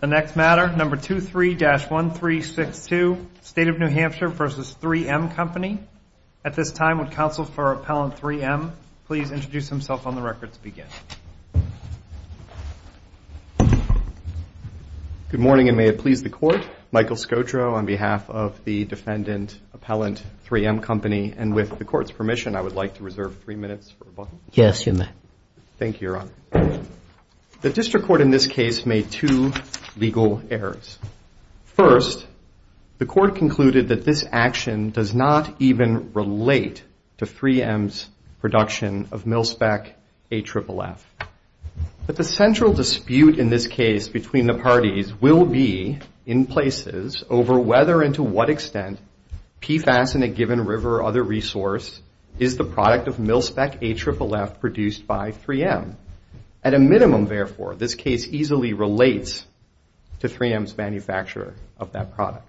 The next matter, number 23-1362, State of New Hampshire v. 3M Company. At this time, would counsel for Appellant 3M please introduce himself on the record to begin. Good morning, and may it please the Court. Michael Scotro on behalf of the defendant, Appellant 3M Company, and with the Court's permission, I would like to reserve three minutes for rebuttal. Yes, you may. Thank you, Your Honor. The District Court in this case made two legal errors. First, the Court concluded that this action does not even relate to 3M's production of MilSpec AFFF. But the central dispute in this case between the parties will be, in places, over whether and to what extent PFAS in a given river or other resource is the product of MilSpec AFFF produced by 3M. At a minimum, therefore, this case easily relates to 3M's manufacture of that product.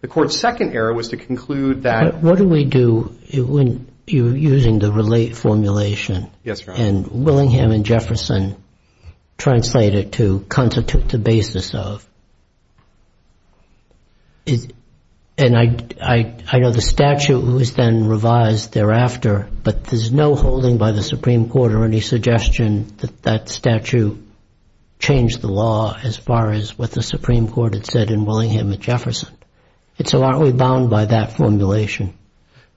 The Court's second error was to conclude that What do we do when you're using the relate formulation? Yes, Your Honor. And Willingham and Jefferson translate it to constitute the basis of. And I know the statute was then revised thereafter, but there's no holding by the Supreme Court or any suggestion that that statute changed the law as far as what the Supreme Court had said in Willingham and Jefferson. And so aren't we bound by that formulation?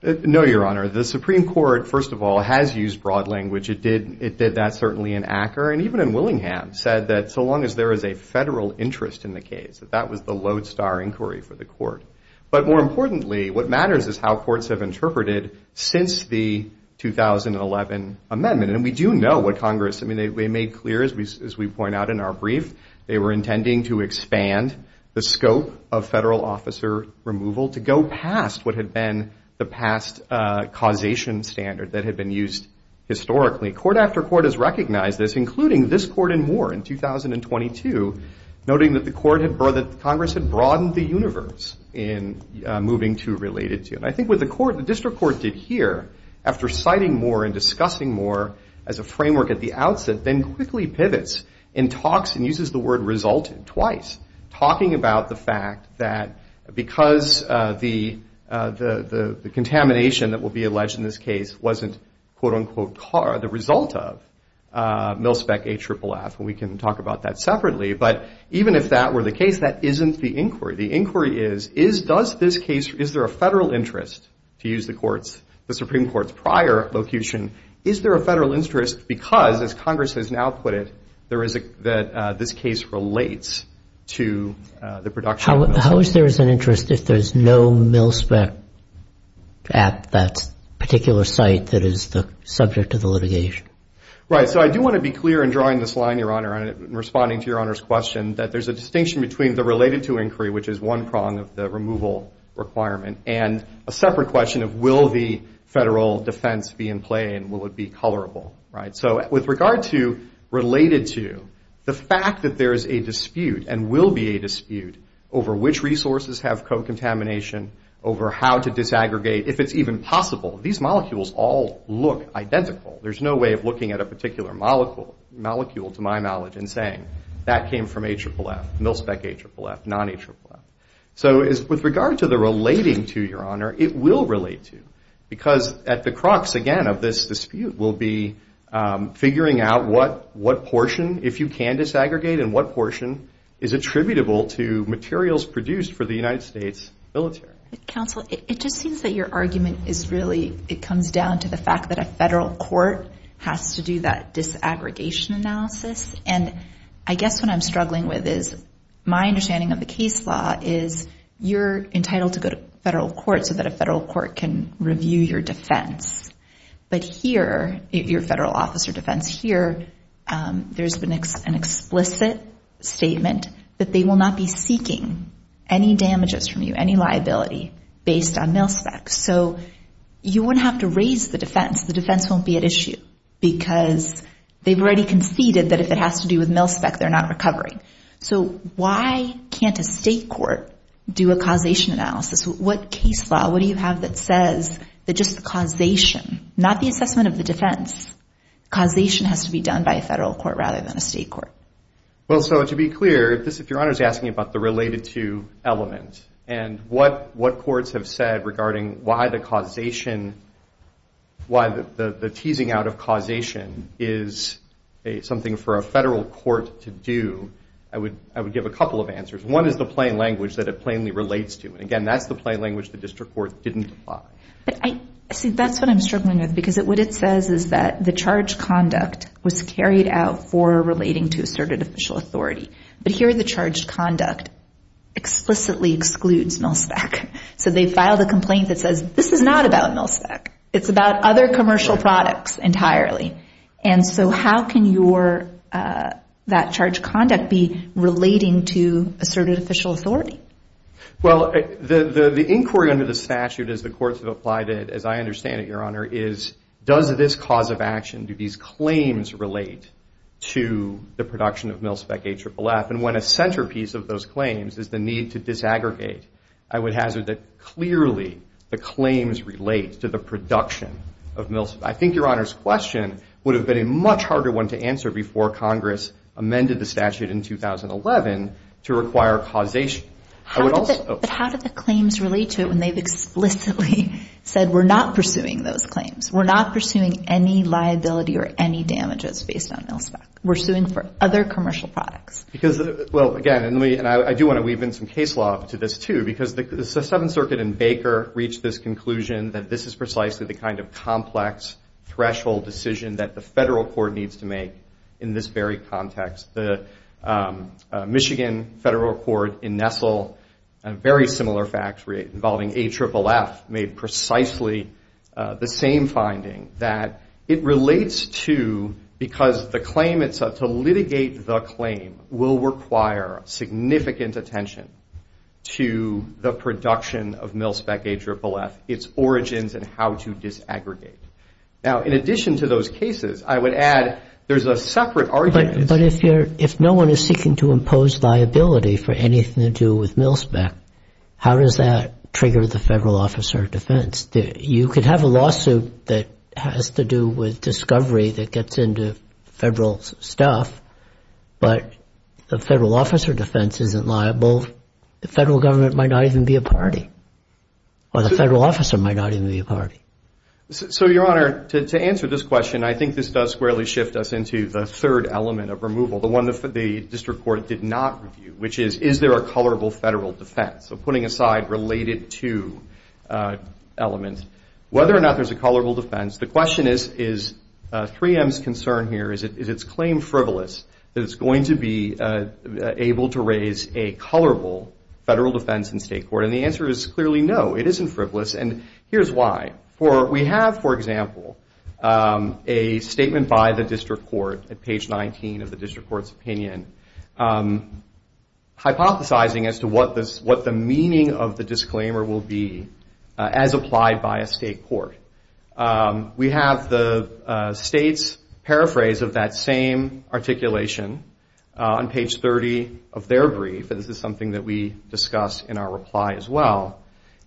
No, Your Honor. The Supreme Court, first of all, has used broad language. It did that certainly in Acker, and even in Willingham, said that so long as there is a federal interest in the case, that that was the lodestar inquiry for the Court. But more importantly, what matters is how courts have interpreted since the 2011 amendment. And we do know what Congress, I mean, they made clear, as we point out in our brief, they were intending to expand the scope of federal officer removal to go past what had been the past causation standard that had been used historically. Court after court has recognized this, including this court in Moore in 2022, noting that Congress had broadened the universe in moving to related to it. And I think what the district court did here, after citing Moore and discussing Moore as a framework at the outset, then quickly pivots and talks and uses the word resulted twice, talking about the fact that because the contamination that will be alleged in this case wasn't, quote, unquote, the result of MilSpec AFFF, and we can talk about that separately. But even if that were the case, that isn't the inquiry. The inquiry is, is does this case, is there a federal interest, to use the Supreme Court's prior vocation, is there a federal interest because, as Congress has now put it, that this case relates to the production. How is there an interest if there's no MilSpec at that particular site that is the subject of the litigation? Right. So I do want to be clear in drawing this line, Your Honor, and responding to Your Honor's question, that there's a distinction between the related to inquiry, which is one prong of the removal requirement, and a separate question of will the federal defense be in play and will it be colorable. Right. So with regard to related to, the fact that there is a dispute and will be a dispute over which resources have co-contamination, over how to disaggregate, if it's even possible, these molecules all look identical. There's no way of looking at a particular molecule, to my knowledge, and saying that came from AFFF, MilSpec AFFF, non-AFFF. So with regard to the relating to, Your Honor, it will relate to because at the crux, again, of this dispute will be figuring out what portion, if you can disaggregate, and what portion is attributable to materials produced for the United States military. Counsel, it just seems that your argument is really, it comes down to the fact that a federal court has to do that disaggregation analysis. And I guess what I'm struggling with is my understanding of the case law is you're entitled to go to federal court so that a federal court can review your defense. But here, your federal officer defense here, there's an explicit statement that they will not be seeking any damages from you, any liability based on MilSpec. So you wouldn't have to raise the defense. The defense won't be at issue because they've already conceded that if it has to do with MilSpec, they're not recovering. So why can't a state court do a causation analysis? What case law, what do you have that says that just causation, not the assessment of the defense, causation has to be done by a federal court rather than a state court? Well, so to be clear, if Your Honor is asking about the related to element and what courts have said regarding why the causation, why the teasing out of causation is something for a federal court to do, I would give a couple of answers. One is the plain language that it plainly relates to. And again, that's the plain language the district court didn't apply. See, that's what I'm struggling with because what it says is that the charged conduct was carried out for relating to asserted official authority. But here the charged conduct explicitly excludes MilSpec. So they filed a complaint that says this is not about MilSpec. It's about other commercial products entirely. And so how can that charged conduct be relating to asserted official authority? Well, the inquiry under the statute as the courts have applied it, as I understand it, Your Honor, is does this cause of action, do these claims relate to the production of MilSpec AFFF? And when a centerpiece of those claims is the need to disaggregate, I would hazard that clearly the claims relate to the production of MilSpec. I think Your Honor's question would have been a much harder one to answer before Congress amended the statute in 2011 to require causation. But how do the claims relate to it when they've explicitly said we're not pursuing those claims? We're not pursuing any liability or any damages based on MilSpec. We're suing for other commercial products. Because, well, again, and I do want to weave in some case law to this, too, because the Seventh Circuit in Baker reached this conclusion that this is precisely the kind of complex threshold decision that the federal court needs to make in this very context. The Michigan federal court in Nestle, a very similar fact involving AFFF, made precisely the same finding that it relates to because the claim itself, to litigate the claim will require significant attention to the production of MilSpec AFFF, its origins and how to disaggregate. Now, in addition to those cases, I would add there's a separate argument. But if no one is seeking to impose liability for anything to do with MilSpec, you could have a lawsuit that has to do with discovery that gets into federal stuff. But the federal officer defense isn't liable. The federal government might not even be a party. Or the federal officer might not even be a party. So, Your Honor, to answer this question, I think this does squarely shift us into the third element of removal, the one the district court did not review, which is, is there a colorable federal defense? So, putting aside related to elements, whether or not there's a colorable defense, the question is 3M's concern here, is its claim frivolous? Is it going to be able to raise a colorable federal defense in state court? And the answer is clearly no. It isn't frivolous. And here's why. We have, for example, a statement by the district court at page 19 of the district court's opinion, hypothesizing as to what the meaning of the disclaimer will be as applied by a state court. We have the state's paraphrase of that same articulation on page 30 of their brief, and this is something that we discuss in our reply as well.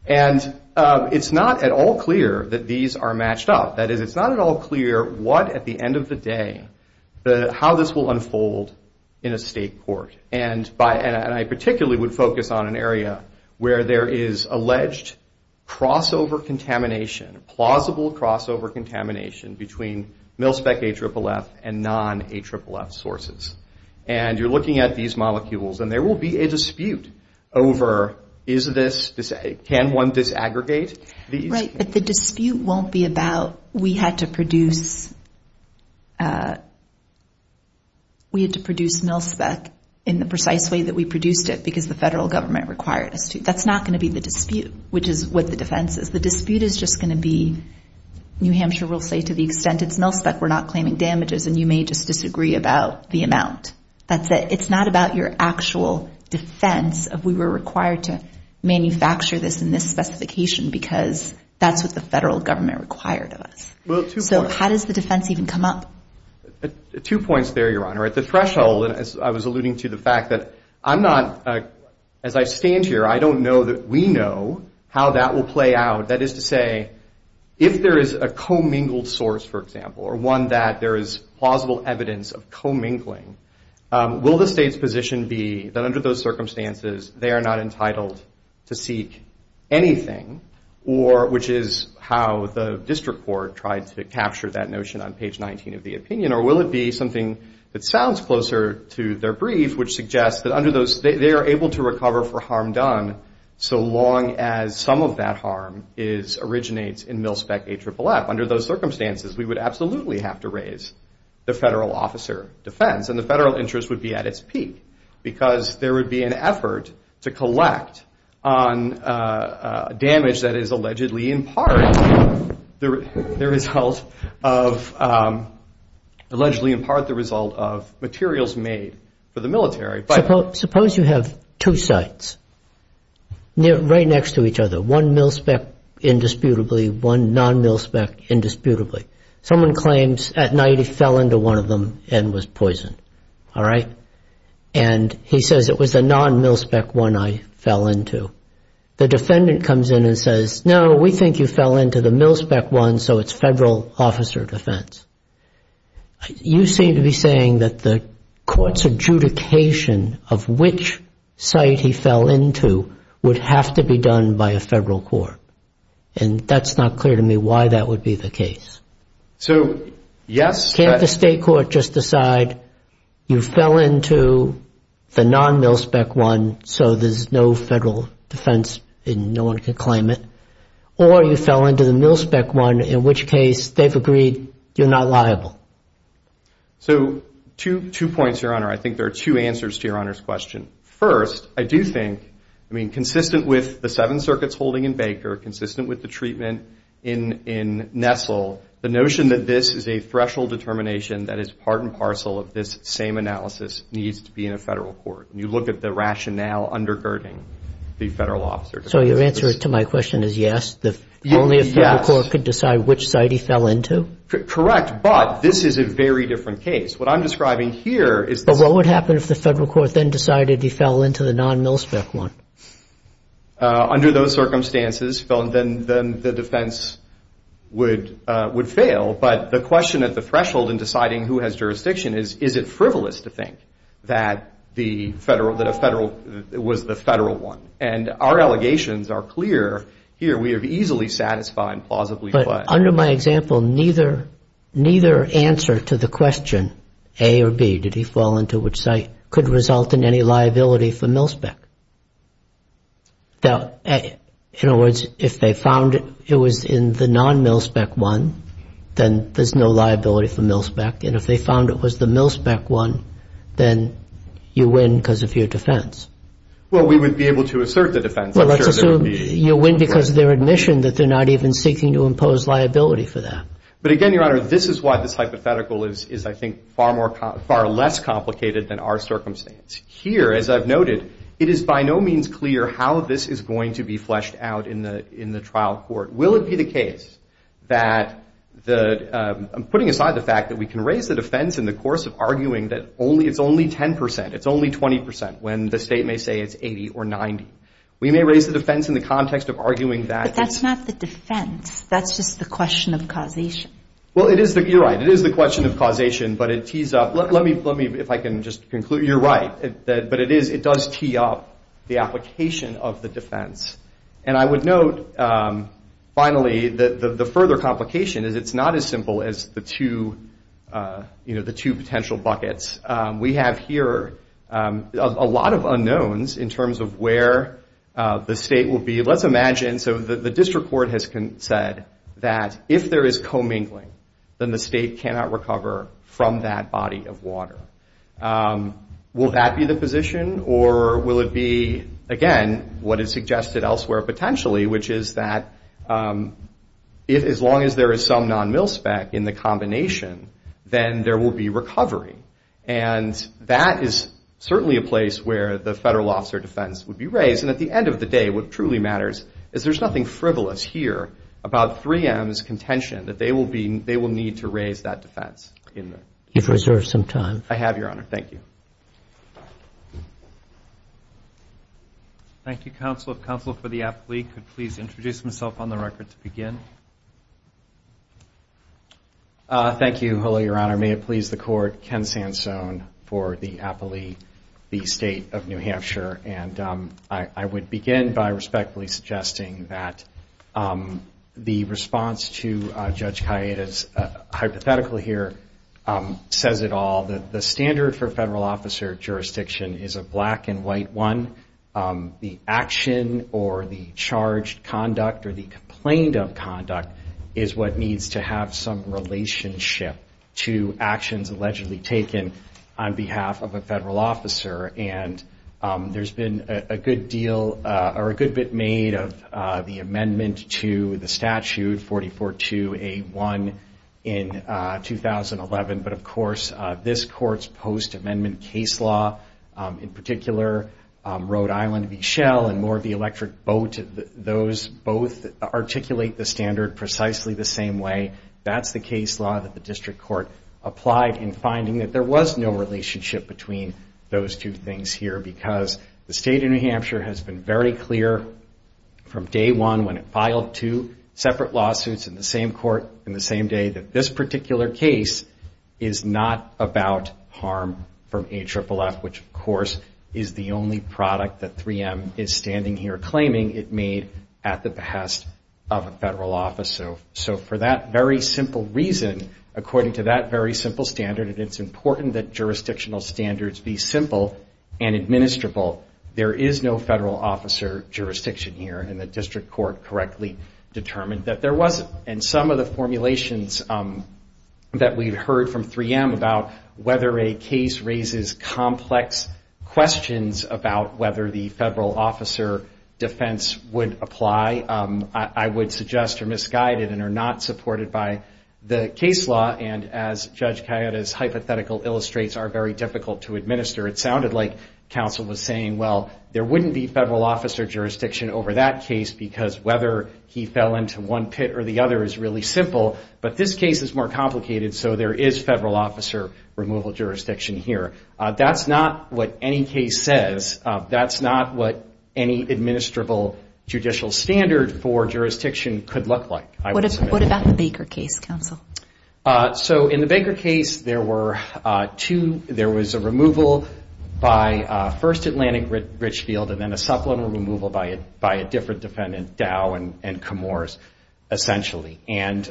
And it's not at all clear that these are matched up. That is, it's not at all clear what, at the end of the day, how this will unfold in a state court. And I particularly would focus on an area where there is alleged crossover contamination, plausible crossover contamination between MilSpec AFFF and non-AFFF sources. And you're looking at these molecules, and there will be a dispute over, is this, can one disaggregate? Right, but the dispute won't be about we had to produce MilSpec in the precise way that we produced it because the federal government required us to. That's not going to be the dispute, which is what the defense is. The dispute is just going to be New Hampshire will say to the extent it's MilSpec, we're not claiming damages, and you may just disagree about the amount. That's it. It's not about your actual defense of we were required to manufacture this in this specification because that's what the federal government required of us. So how does the defense even come up? Two points there, Your Honor. At the threshold, and as I was alluding to the fact that I'm not, as I stand here, I don't know that we know how that will play out. That is to say, if there is a commingled source, for example, or one that there is plausible evidence of commingling, will the state's position be that under those circumstances, they are not entitled to seek anything, which is how the district court tried to capture that notion on page 19 of the opinion, or will it be something that sounds closer to their brief, which suggests that under those, they are able to recover for harm done so long as some of that harm originates in MilSpec AFFF. Under those circumstances, we would absolutely have to raise the federal officer defense and the federal interest would be at its peak because there would be an effort to collect on damage that is allegedly in part the result of, allegedly in part the result of materials made for the military. Suppose you have two sites right next to each other, one MilSpec indisputably, one non-MilSpec indisputably. Someone claims at night he fell into one of them and was poisoned, all right? And he says, it was a non-MilSpec one I fell into. The defendant comes in and says, no, we think you fell into the MilSpec one, so it's federal officer defense. You seem to be saying that the court's adjudication of which site he fell into would have to be done by a federal court. And that's not clear to me why that would be the case. So, yes. Can't the state court just decide you fell into the non-MilSpec one so there's no federal defense and no one can claim it? Or you fell into the MilSpec one, in which case they've agreed you're not liable. So, two points, Your Honor. I think there are two answers to Your Honor's question. First, I do think, I mean, consistent with the Seven Circuits holding in Baker, consistent with the treatment in Nestle, the notion that this is a threshold determination that is part and parcel of this same analysis needs to be in a federal court. And you look at the rationale undergirding the federal officer defense. So your answer to my question is yes? Yes. Only a federal court could decide which site he fell into? Correct, but this is a very different case. What I'm describing here is this. What would happen if the federal court then decided he fell into the non-MilSpec one? Under those circumstances, then the defense would fail. But the question at the threshold in deciding who has jurisdiction is, is it frivolous to think that a federal was the federal one? And our allegations are clear here. We have easily satisfied and plausibly fled. Under my example, neither answer to the question, A or B, did he fall into which site, could result in any liability for MilSpec. In other words, if they found it was in the non-MilSpec one, then there's no liability for MilSpec. And if they found it was the MilSpec one, then you win because of your defense. Well, we would be able to assert the defense. Well, let's assume you win because of their admission that they're not even seeking to impose liability for that. But again, Your Honor, this is why this hypothetical is, I think, far less complicated than our circumstance. Here, as I've noted, it is by no means clear how this is going to be fleshed out in the trial court. Will it be the case that, putting aside the fact that we can raise the defense in the course of arguing that it's only 10 percent, it's only 20 percent, when the state may say it's 80 or 90. We may raise the defense in the context of arguing that it's- But that's not the defense. That's just the question of causation. Well, you're right. It is the question of causation, but it tees up. Let me, if I can just conclude. You're right. But it does tee up the application of the defense. And I would note, finally, the further complication is it's not as simple as the two potential buckets. We have here a lot of unknowns in terms of where the state will be. Let's imagine, so the district court has said that if there is commingling, then the state cannot recover from that body of water. Will that be the position, or will it be, again, what is suggested elsewhere potentially, which is that as long as there is some non-mil spec in the combination, then there will be recovery. And that is certainly a place where the federal officer defense would be raised. And at the end of the day, what truly matters is there's nothing frivolous here about 3M's contention, that they will need to raise that defense. You've reserved some time. Thank you. Thank you, Counsel. Counsel for the appellee could please introduce himself on the record to begin. Thank you. Hello, Your Honor. May it please the Court. Ken Sansone for the appellee, the State of New Hampshire. And I would begin by respectfully suggesting that the response to Judge Kayeda's hypothetical here says it all. The standard for federal officer jurisdiction is a black and white one. The action or the charged conduct or the complaint of conduct is what needs to have some relationship to actions allegedly taken on behalf of a federal officer. And there's been a good deal or a good bit made of the amendment to the statute 44-2A-1 in 2011. But, of course, this Court's post-amendment case law, in particular, Rhode Island v. Shell and Moore v. Electric Boat, those both articulate the standard precisely the same way. That's the case law that the District Court applied in finding that there was no relationship between those two things here because the State of New Hampshire has been very clear from day one when it filed two separate lawsuits in the same court and the same day that this particular case is not about harm from AFFF, which, of course, is the only product that 3M is standing here claiming it made at the behest of a federal officer. So for that very simple reason, according to that very simple standard, and it's important that jurisdictional standards be simple and administrable, there is no federal officer jurisdiction here, and the District Court correctly determined that there wasn't. And some of the formulations that we've heard from 3M about whether a case raises complex questions about whether the federal officer defense would apply, I would suggest are misguided and are not supported by the case law. And as Judge Cayetta's hypothetical illustrates, are very difficult to administer. It sounded like counsel was saying, well, there wouldn't be federal officer jurisdiction over that case because whether he fell into one pit or the other is really simple, but this case is more complicated, so there is federal officer removal jurisdiction here. That's not what any case says. That's not what any administrable judicial standard for jurisdiction could look like. What about the Baker case, counsel? So in the Baker case, there were two. There was a removal by first Atlantic Richfield, and then a supplemental removal by a different defendant, Dow and Camores, essentially. And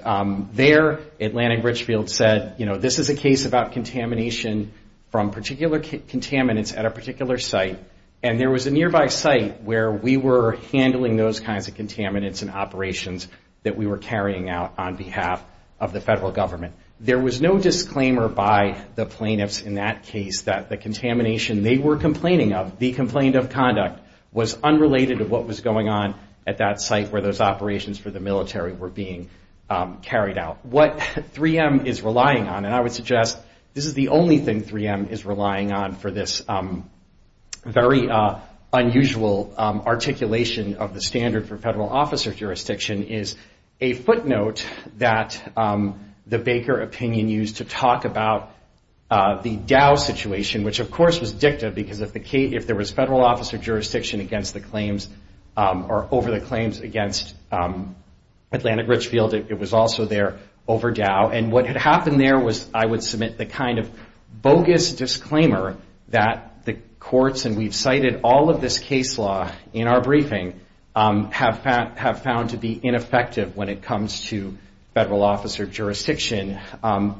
there, Atlantic Richfield said, you know, this is a case about contamination from particular contaminants at a particular site, and there was a nearby site where we were handling those kinds of contaminants and operations that we were carrying out on behalf of the federal government. There was no disclaimer by the plaintiffs in that case that the contamination they were complaining of, the complaint of conduct, was unrelated to what was going on at that site where those operations for the military were being carried out. What 3M is relying on, and I would suggest this is the only thing 3M is relying on for this very unusual articulation of the standard for federal officer jurisdiction, is a footnote that the Baker opinion used to talk about the Dow situation, which of course was dicta because if there was federal officer jurisdiction over the claims against Atlantic Richfield, it was also there over Dow. And what had happened there was I would submit the kind of bogus disclaimer that the courts, and we've cited all of this case law in our briefing, have found to be ineffective when it comes to federal officer jurisdiction.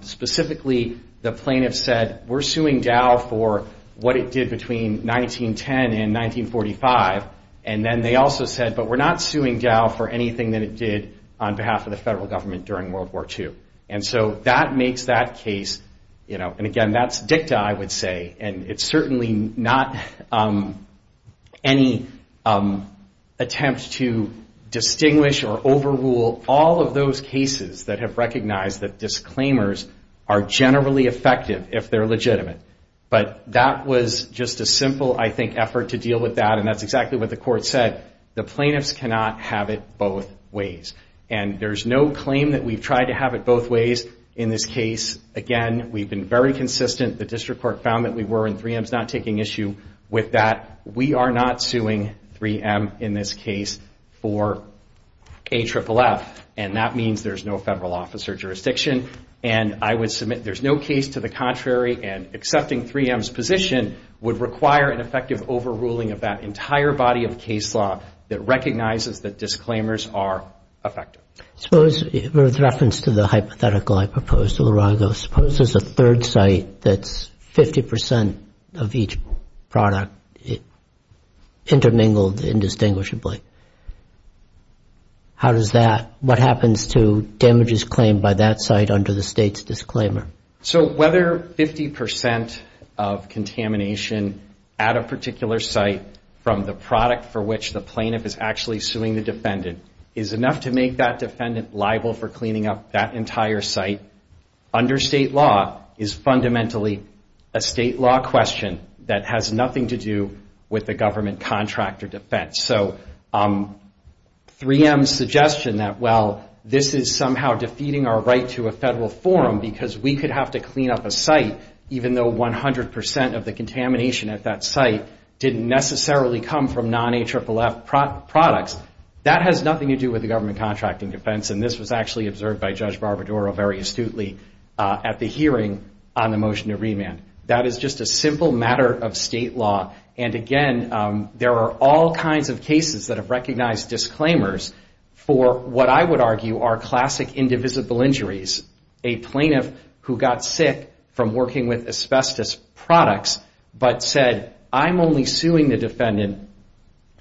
Specifically, the plaintiffs said, we're suing Dow for what it did between 1910 and 1945. And then they also said, but we're not suing Dow for anything that it did on behalf of the federal government during World War II. And so that makes that case, and again, that's dicta, I would say, and it's certainly not any attempt to distinguish or overrule all of those cases that have recognized that disclaimers are generally effective if they're legitimate. But that was just a simple, I think, effort to deal with that, and that's exactly what the court said. The plaintiffs cannot have it both ways. And there's no claim that we've tried to have it both ways in this case. Again, we've been very consistent. The district court found that we were, and 3M's not taking issue with that. We are not suing 3M in this case for AFFF, and that means there's no federal officer jurisdiction. And I would submit there's no case to the contrary, and accepting 3M's position would require an effective overruling of that entire body of case law that recognizes that disclaimers are effective. Suppose, with reference to the hypothetical I proposed to Lurago, suppose there's a third site that's 50% of each product intermingled indistinguishably. How does that, what happens to damages claimed by that site under the state's disclaimer? So whether 50% of contamination at a particular site from the product for which the plaintiff is actually suing the defendant is enough to make that defendant liable for cleaning up that entire site, under state law is fundamentally a state law question that has nothing to do with the government contract or defense. So 3M's suggestion that, well, this is somehow defeating our right to a federal forum because we could have to clean up a site even though 100% of the contamination at that site didn't necessarily come from non-AFFF products, that has nothing to do with the government contract and defense, and this was actually observed by Judge Barbaduro very astutely at the hearing on the motion to remand. That is just a simple matter of state law. And again, there are all kinds of cases that have recognized disclaimers for what I would argue are classic indivisible injuries. A plaintiff who got sick from working with asbestos products but said, I'm only suing the defendant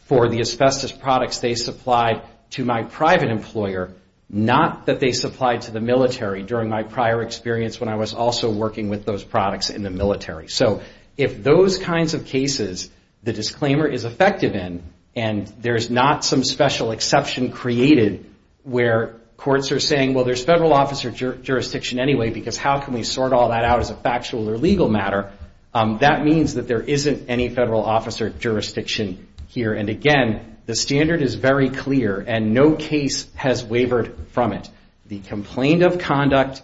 for the asbestos products they supplied to my private employer, not that they supplied to the military during my prior experience when I was also working with those products in the military. So if those kinds of cases the disclaimer is effective in and there's not some special exception created where courts are saying, well, there's federal officer jurisdiction anyway because how can we sort all that out as a factual or legal matter? That means that there isn't any federal officer jurisdiction here. And again, the standard is very clear and no case has wavered from it. The complaint of conduct,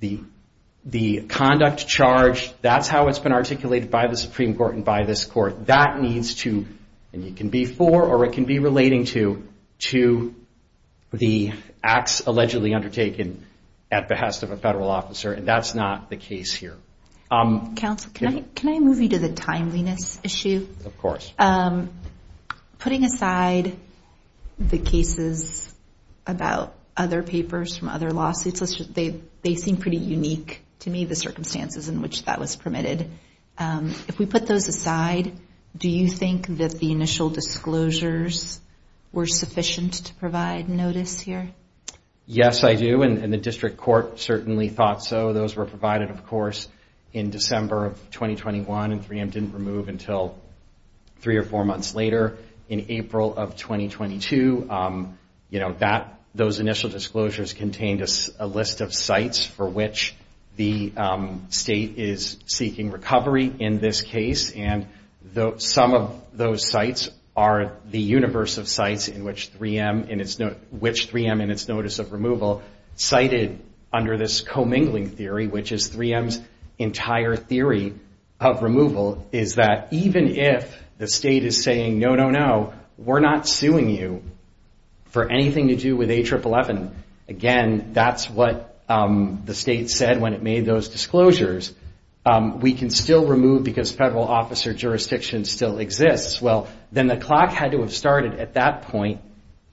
the conduct charge, that's how it's been articulated by the Supreme Court and by this court. That needs to, and it can be for or it can be relating to, to the acts allegedly undertaken at behest of a federal officer, and that's not the case here. Counsel, can I move you to the timeliness issue? Of course. Putting aside the cases about other papers from other lawsuits, they seem pretty unique to me, the circumstances in which that was permitted. If we put those aside, do you think that the initial disclosures were sufficient to provide notice here? Yes, I do, and the district court certainly thought so. Those were provided, of course, in December of 2021 and 3M didn't remove until three or four months later. In April of 2022, those initial disclosures contained a list of sites for which the state is seeking recovery in this case, and some of those sites are the universe of sites in which 3M in its notice of removal cited under this commingling theory, which is 3M's entire theory of removal, is that even if the state is saying, no, no, no, we're not suing you for anything to do with A111, again, that's what the state said when it made those disclosures. We can still remove because federal officer jurisdiction still exists. Well, then the clock had to have started at that point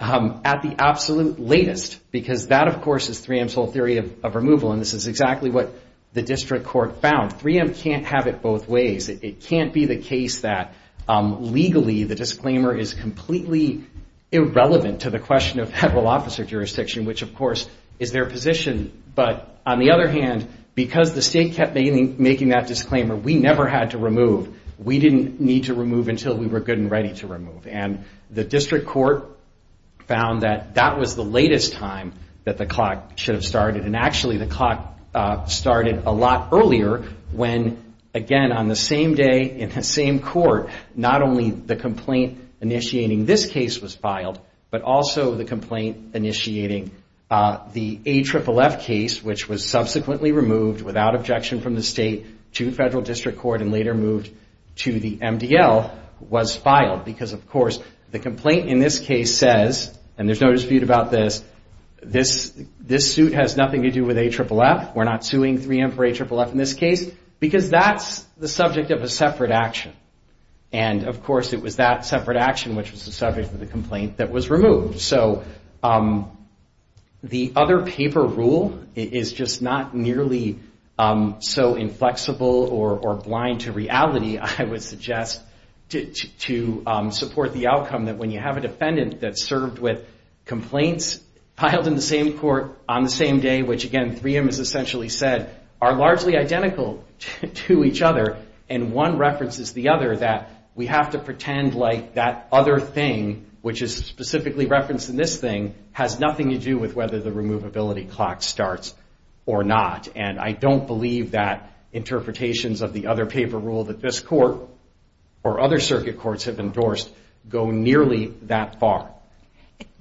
at the absolute latest, because that, of course, is 3M's whole theory of removal, and this is exactly what the district court found. 3M can't have it both ways. It can't be the case that legally the disclaimer is completely irrelevant to the question of federal officer jurisdiction, which, of course, is their position. But on the other hand, because the state kept making that disclaimer, we never had to remove. We didn't need to remove until we were good and ready to remove, and the district court found that that was the latest time that the clock should have started, and actually the clock started a lot earlier when, again, on the same day in the same court, not only the complaint initiating this case was filed, but also the complaint initiating the AFFF case, which was subsequently removed without objection from the state to federal district court and later moved to the MDL, was filed because, of course, the complaint in this case says, and there's no dispute about this, this suit has nothing to do with AFFF, we're not suing 3M for AFFF in this case, because that's the subject of a separate action. And, of course, it was that separate action, which was the subject of the complaint, that was removed. So the other paper rule is just not nearly so inflexible or blind to reality, I would suggest, to support the outcome that when you have a defendant that served with complaints filed in the same court on the same day, which, again, 3M has essentially said, are largely identical to each other, and one references the other that we have to pretend like that other thing, which is specifically referenced in this thing, has nothing to do with whether the removability clock starts or not. And I don't believe that interpretations of the other paper rule that this court or other circuit courts have endorsed go nearly that far.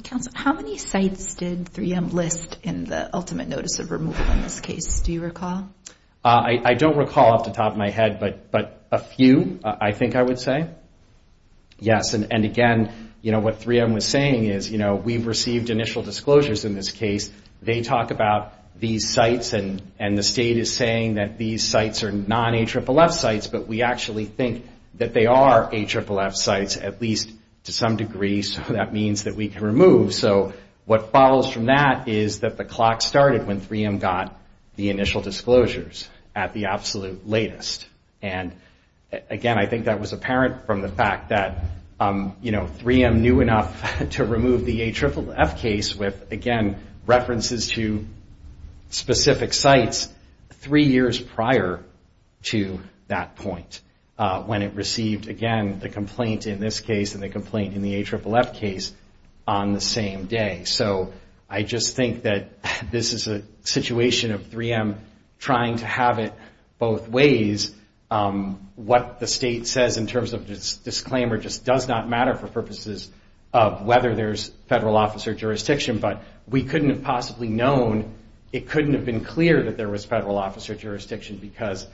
Counsel, how many sites did 3M list in the ultimate notice of removal in this case, do you recall? I don't recall off the top of my head, but a few, I think I would say. Yes, and again, you know, what 3M was saying is, you know, we've received initial disclosures in this case, they talk about these sites and the state is saying that these sites are non-AFFF sites, but we actually think that they are AFFF sites, at least to some degree, so that means that we can remove. So what follows from that is that the clock started when 3M got the initial disclosures at the absolute latest. And again, I think that was apparent from the fact that, you know, 3M knew enough to remove the AFFF case with, again, references to specific sites three years prior to that point, when it received, again, the complaint in this case and the complaint in the AFFF case on the same day. So I just think that this is a situation of 3M trying to have it both ways. What the state says in terms of disclaimer just does not matter for purposes of whether there's federal office or jurisdiction, but we couldn't have possibly known, it couldn't have been clear that there was federal office or jurisdiction because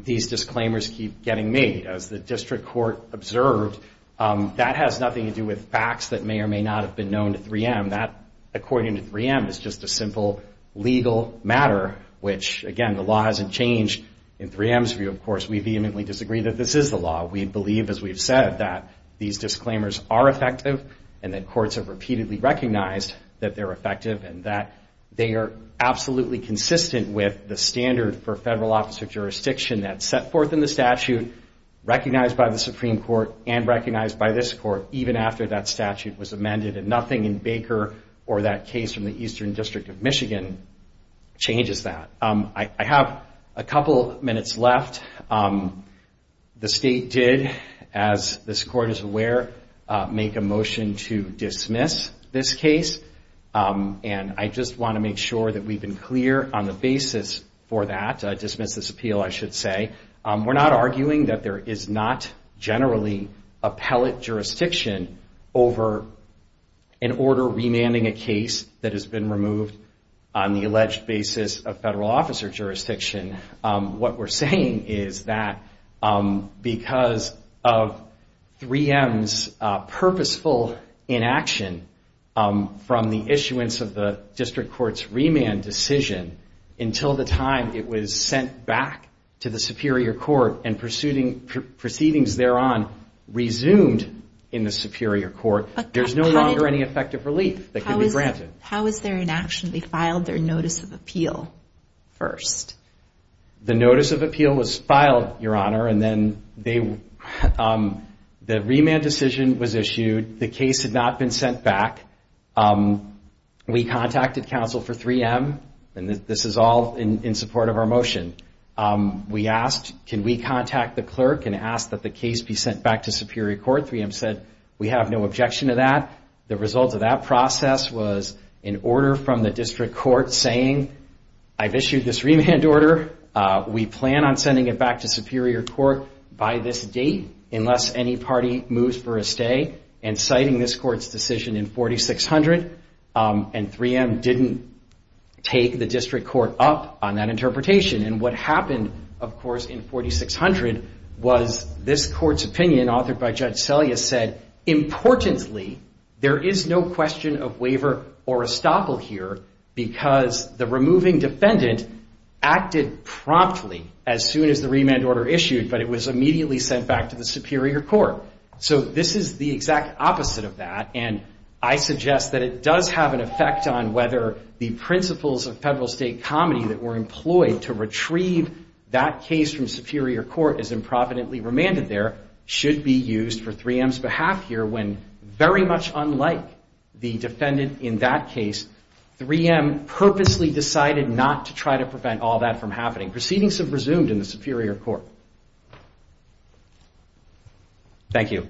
these disclaimers keep getting made. As the district court observed, that has nothing to do with facts that may or may not have been known to 3M. That, according to 3M, is just a simple legal matter, which, again, the law hasn't changed. In 3M's view, of course, we vehemently disagree that this is the law. We believe, as we've said, that these disclaimers are effective and that courts have repeatedly recognized that they're effective and that they are absolutely consistent with the standard for federal office or jurisdiction that's set forth in the statute, recognized by the Supreme Court, and recognized by this court, even after that statute was amended, and nothing in Baker or that case from the Eastern District of Michigan changes that. I have a couple minutes left. The state did, as this court is aware, make a motion to dismiss this case, and I just want to make sure that we've been clear on the basis for that, dismiss this appeal, I should say. We're not arguing that there is not generally appellate jurisdiction over an order remanding a case that has been removed on the alleged basis of federal officer jurisdiction. What we're saying is that because of 3M's purposeful inaction from the issuance of the District Court's remand decision, until the time it was sent back to the Superior Court and proceedings thereon resumed in the Superior Court, there's no longer any effective relief that can be granted. How was their inaction? They filed their notice of appeal first. The notice of appeal was filed, Your Honor, and then the remand decision was issued. The case had not been sent back. We contacted counsel for 3M, and this is all in support of our motion. We asked, can we contact the clerk and ask that the case be sent back to Superior Court? 3M said, we have no objection to that. The result of that process was an order from the District Court saying, I've issued this remand order. We plan on sending it back to Superior Court by this date unless any party moves for a stay, and citing this Court's decision in 4600, and 3M didn't take the District Court up on that interpretation. And what happened, of course, in 4600 was this Court's opinion authored by Judge Selyus said, importantly, there is no question of waiver or estoppel here because the removing defendant acted promptly as soon as the remand order issued, but it was immediately sent back to the Superior Court. So this is the exact opposite of that, and I suggest that it does have an effect on whether the principles of federal state comedy that were employed to retrieve that case from Superior Court as improvidently remanded there should be used for 3M's behalf here when very much unlike the defendant in that case, 3M purposely decided not to try to prevent all that from happening. Proceedings have resumed in the Superior Court. Thank you.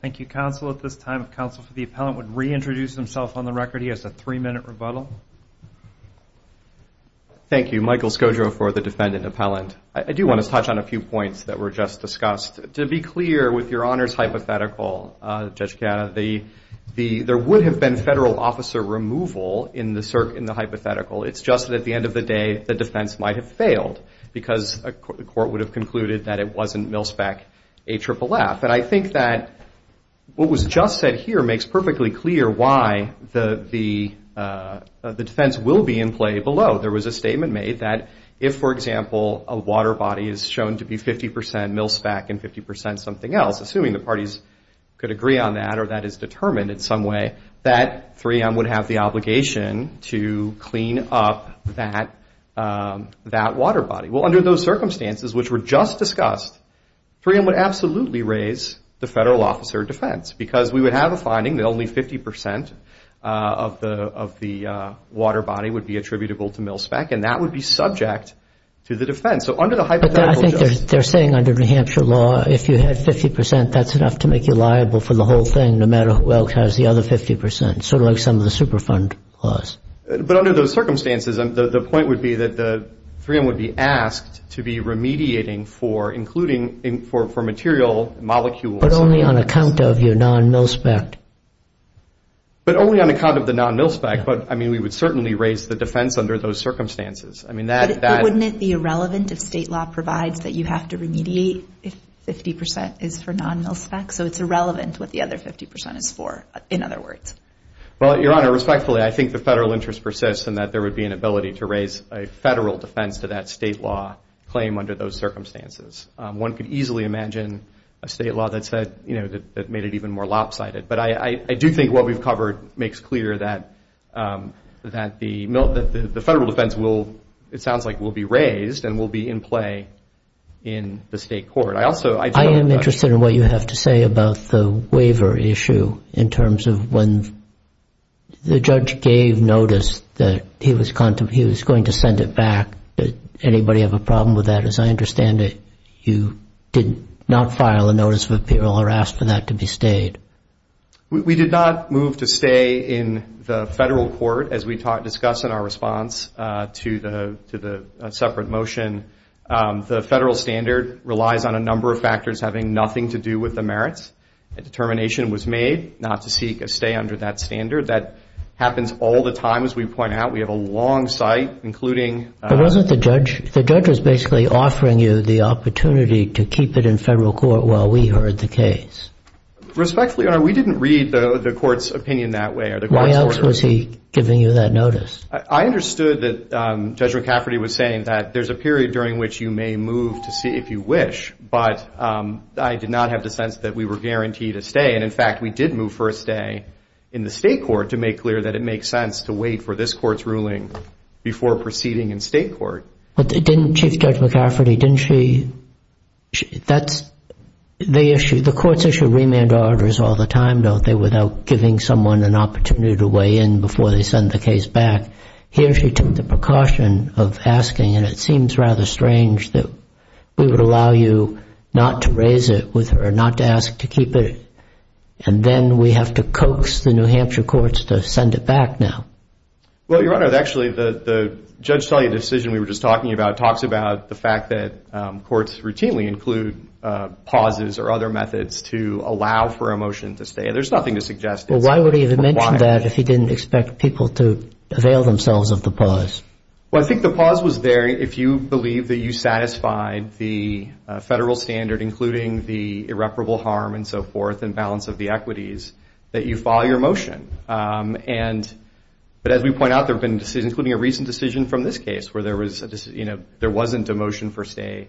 Thank you, counsel. At this time, counsel for the appellant would reintroduce himself on the record. He has a three-minute rebuttal. Thank you. Michael Scoggio for the defendant appellant. I do want to touch on a few points that were just discussed. To be clear, with your Honor's hypothetical, Judge Kanna, there would have been federal officer removal in the hypothetical. It's just that at the end of the day, the defense might have failed because the Court would have concluded that it wasn't Milspec AFFF. And I think that what was just said here makes perfectly clear why the defense will be in play below. There was a statement made that if, for example, a water body is shown to be 50% Milspec and 50% something else, assuming the parties could agree on that or that is determined in some way, that 3M would have the obligation to clean up that water body. Well, under those circumstances, which were just discussed, 3M would absolutely raise the federal officer defense because we would have a finding that only 50% of the water body would be attributable to Milspec, and that would be subject to the defense. So under the hypothetical, Judge. But I think they're saying under New Hampshire law, if you had 50%, that's enough to make you liable for the whole thing, no matter who else has the other 50%, sort of like some of the Superfund laws. But under those circumstances, the point would be that 3M would be asked to be remediating for material molecules. But only on account of your non-Milspec. But only on account of the non-Milspec. But, I mean, we would certainly raise the defense under those circumstances. But wouldn't it be irrelevant if state law provides that you have to remediate if 50% is for non-Milspec? So it's irrelevant what the other 50% is for, in other words. Well, Your Honor, respectfully, I think the federal interest persists in that there would be an ability to raise a federal defense to that state law claim under those circumstances. One could easily imagine a state law that made it even more lopsided. But I do think what we've covered makes clear that the federal defense, it sounds like, will be raised and will be in play in the state court. I am interested in what you have to say about the waiver issue in terms of when the judge gave notice that he was going to send it back. Did anybody have a problem with that? As I understand it, you did not file a notice of appeal or ask for that to be stayed. We did not move to stay in the federal court, as we discuss in our response to the separate motion. The federal standard relies on a number of factors having nothing to do with the merits. A determination was made not to seek a stay under that standard. That happens all the time, as we point out. We have a long site, including- The judge was basically offering you the opportunity to keep it in federal court while we heard the case. Respectfully, Your Honor, we didn't read the court's opinion that way. Why else was he giving you that notice? I understood that Judge McCafferty was saying that there's a period during which you may move to see if you wish, but I did not have the sense that we were guaranteed a stay. In fact, we did move for a stay in the state court to make clear that it makes sense to wait for this court's ruling before proceeding in state court. But didn't Chief Judge McCafferty, didn't she- The courts issue remand orders all the time, don't they, without giving someone an opportunity to weigh in before they send the case back? Here she took the precaution of asking, and it seems rather strange that we would allow you not to raise it with her, not to ask to keep it, and then we have to coax the New Hampshire courts to send it back now. Well, Your Honor, actually the Judge Tully decision we were just talking about talks about the fact that courts routinely include pauses or other methods to allow for a motion to stay. There's nothing to suggest- Well, why would he have mentioned that if he didn't expect people to avail themselves of the pause? Well, I think the pause was there if you believe that you satisfied the federal standard, including the irreparable harm and so forth and balance of the equities, that you file your motion. But as we point out, there have been decisions, including a recent decision from this case, where there wasn't a motion for stay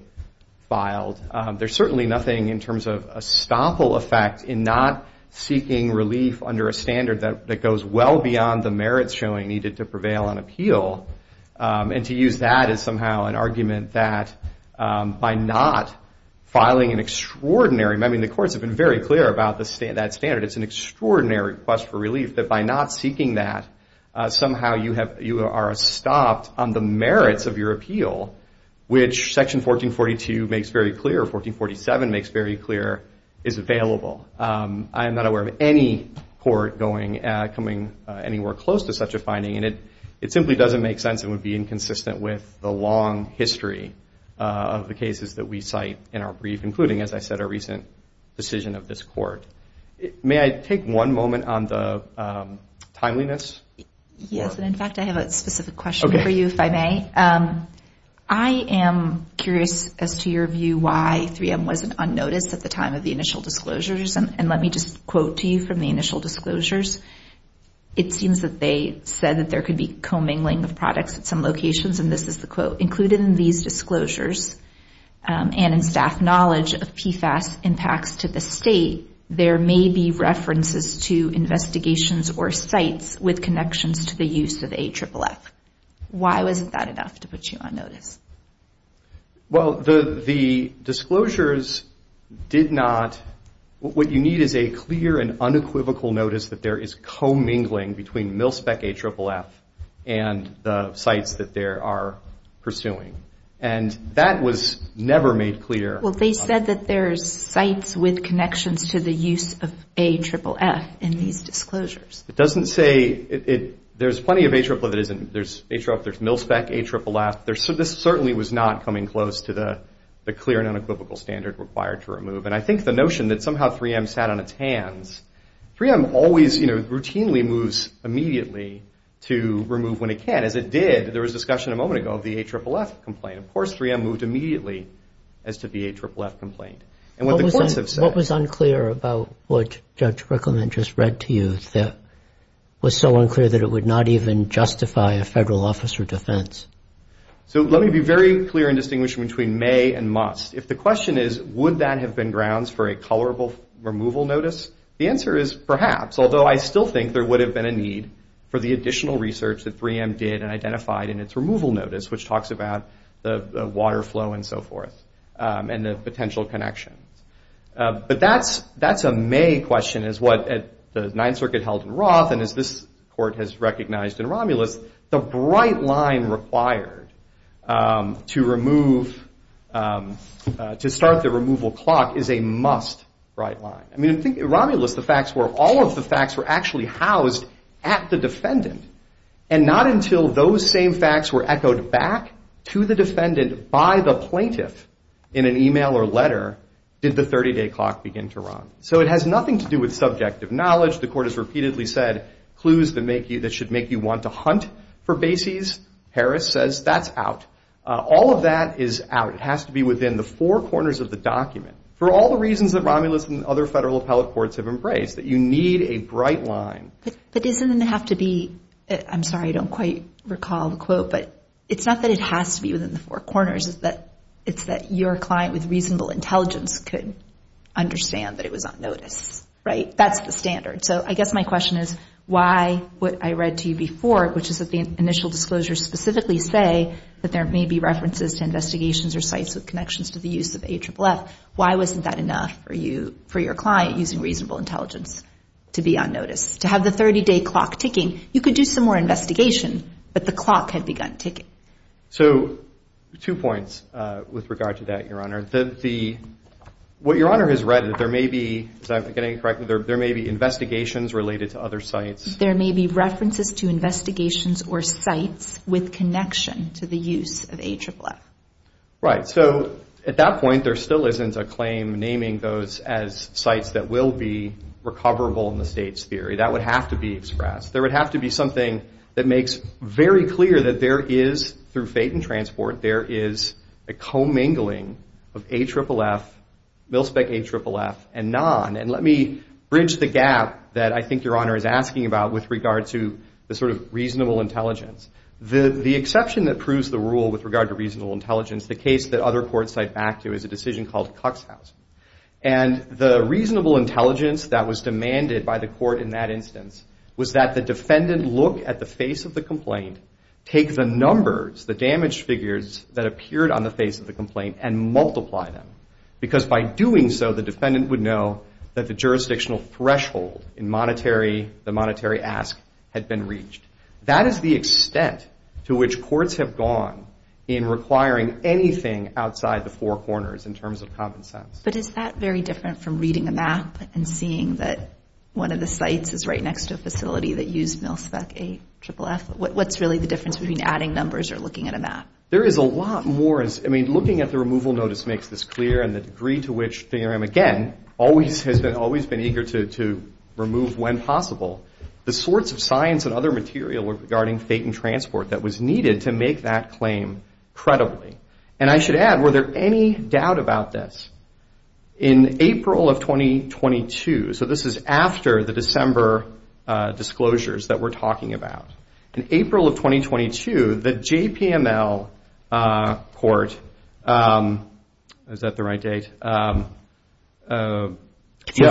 filed. There's certainly nothing in terms of a stopple effect in not seeking relief under a standard that goes well beyond the merits showing needed to prevail on appeal, and to use that as somehow an argument that by not filing an extraordinary- I mean, the courts have been very clear about that standard. It's an extraordinary request for relief that by not seeking that, somehow you are stopped on the merits of your appeal, which Section 1442 makes very clear or 1447 makes very clear is available. I am not aware of any court coming anywhere close to such a finding, and it simply doesn't make sense and would be inconsistent with the long history of the cases that we cite in our brief, including, as I said, a recent decision of this court. May I take one moment on the timeliness? Yes, and in fact, I have a specific question for you, if I may. I am curious as to your view why 3M wasn't on notice at the time of the initial disclosures, and let me just quote to you from the initial disclosures. It seems that they said that there could be commingling of products at some locations, and this is the quote. Included in these disclosures and in staff knowledge of PFAS impacts to the state, there may be references to investigations or sites with connections to the use of AFFF. Why wasn't that enough to put you on notice? Well, the disclosures did not. What you need is a clear and unequivocal notice that there is commingling between MilSpec AFFF and the sites that they are pursuing, and that was never made clear. Well, they said that there's sites with connections to the use of AFFF in these disclosures. It doesn't say there's plenty of AFFF. There's MilSpec AFFF. This certainly was not coming close to the clear and unequivocal standard required to remove, and I think the notion that somehow 3M sat on its hands, 3M always routinely moves immediately to remove when it can. As it did, there was discussion a moment ago of the AFFF complaint. Of course, 3M moved immediately as to the AFFF complaint. What was unclear about what Judge Brickleman just read to you that was so unclear that it would not even justify a federal officer defense? So let me be very clear in distinguishing between may and must. If the question is, would that have been grounds for a tolerable removal notice, the answer is perhaps, although I still think there would have been a need for the additional research that 3M did and identified in its removal notice, which talks about the water flow and so forth and the potential connections. But that's a may question, is what the Ninth Circuit held in Roth, and as this Court has recognized in Romulus, the bright line required to remove, to start the removal clock is a must bright line. I mean, in Romulus, the facts were all of the facts were actually housed at the defendant, and not until those same facts were echoed back to the defendant by the plaintiff in an e-mail or letter did the 30-day clock begin to run. So it has nothing to do with subjective knowledge. The Court has repeatedly said clues that should make you want to hunt for bases. Harris says that's out. All of that is out. It has to be within the four corners of the document. For all the reasons that Romulus and other federal appellate courts have embraced, that you need a bright line. But doesn't it have to be, I'm sorry, I don't quite recall the quote, but it's not that it has to be within the four corners. It's that your client with reasonable intelligence could understand that it was on notice, right? That's the standard. So I guess my question is why what I read to you before, which is that the initial disclosures specifically say that there may be references to investigations or sites with connections to the use of AFFF, why wasn't that enough for your client using reasonable intelligence to be on notice, to have the 30-day clock ticking? You could do some more investigation, but the clock had begun ticking. So two points with regard to that, Your Honor. What Your Honor has read is that there may be, if I'm getting it correctly, there may be investigations related to other sites. There may be references to investigations or sites with connection to the use of AFFF. Right. So at that point, there still isn't a claim naming those as sites that will be recoverable in the state's theory. That would have to be expressed. There would have to be something that makes very clear that there is, through fate and transport, there is a commingling of AFFF, MilSpec AFFF, and non. And let me bridge the gap that I think Your Honor is asking about with regard to the sort of reasonable intelligence. The exception that proves the rule with regard to reasonable intelligence, the case that other courts cite back to, is a decision called Cuxhausen. And the reasonable intelligence that was demanded by the court in that instance was that the defendant look at the face of the complaint, take the numbers, the damaged figures that appeared on the face of the complaint, and multiply them. Because by doing so, the defendant would know that the jurisdictional threshold in the monetary ask had been reached. That is the extent to which courts have gone in requiring anything outside the four corners in terms of common sense. But is that very different from reading a map and seeing that one of the sites is right next to a facility that used MilSpec AFFF? What's really the difference between adding numbers or looking at a map? There is a lot more. I mean, looking at the removal notice makes this clear. And the degree to which, again, always has been eager to remove, when possible, the sorts of science and other material regarding fate and transport that was needed to make that claim credibly. And I should add, were there any doubt about this? In April of 2022, so this is after the December disclosures that we're talking about. In April of 2022, the JPML court, is that the right date? If you're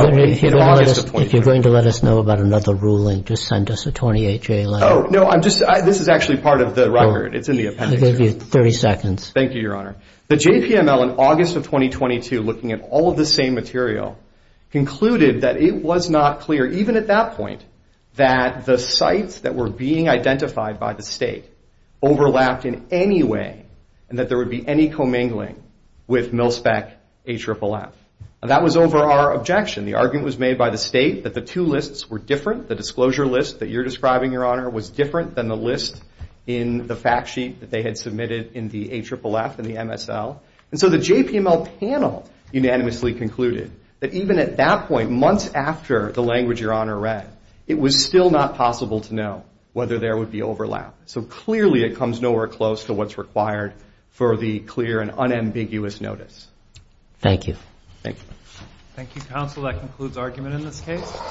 going to let us know about another ruling, just send us a 28-J letter. Oh, no. This is actually part of the record. It's in the appendix. I'll give you 30 seconds. Thank you, Your Honor. The JPML, in August of 2022, looking at all of the same material, concluded that it was not clear, even at that point, that the sites that were being identified by the state overlapped in any way and that there would be any commingling with MilSpec AFFF. And that was over our objection. The argument was made by the state that the two lists were different. The disclosure list that you're describing, Your Honor, was different than the list in the fact sheet that they had submitted in the AFFF and the MSL. And so the JPML panel unanimously concluded that even at that point, months after the language Your Honor read, it was still not possible to know whether there would be overlap. So clearly it comes nowhere close to what's required for the clear and unambiguous notice. Thank you. Thank you. Thank you, counsel. That concludes argument in this case.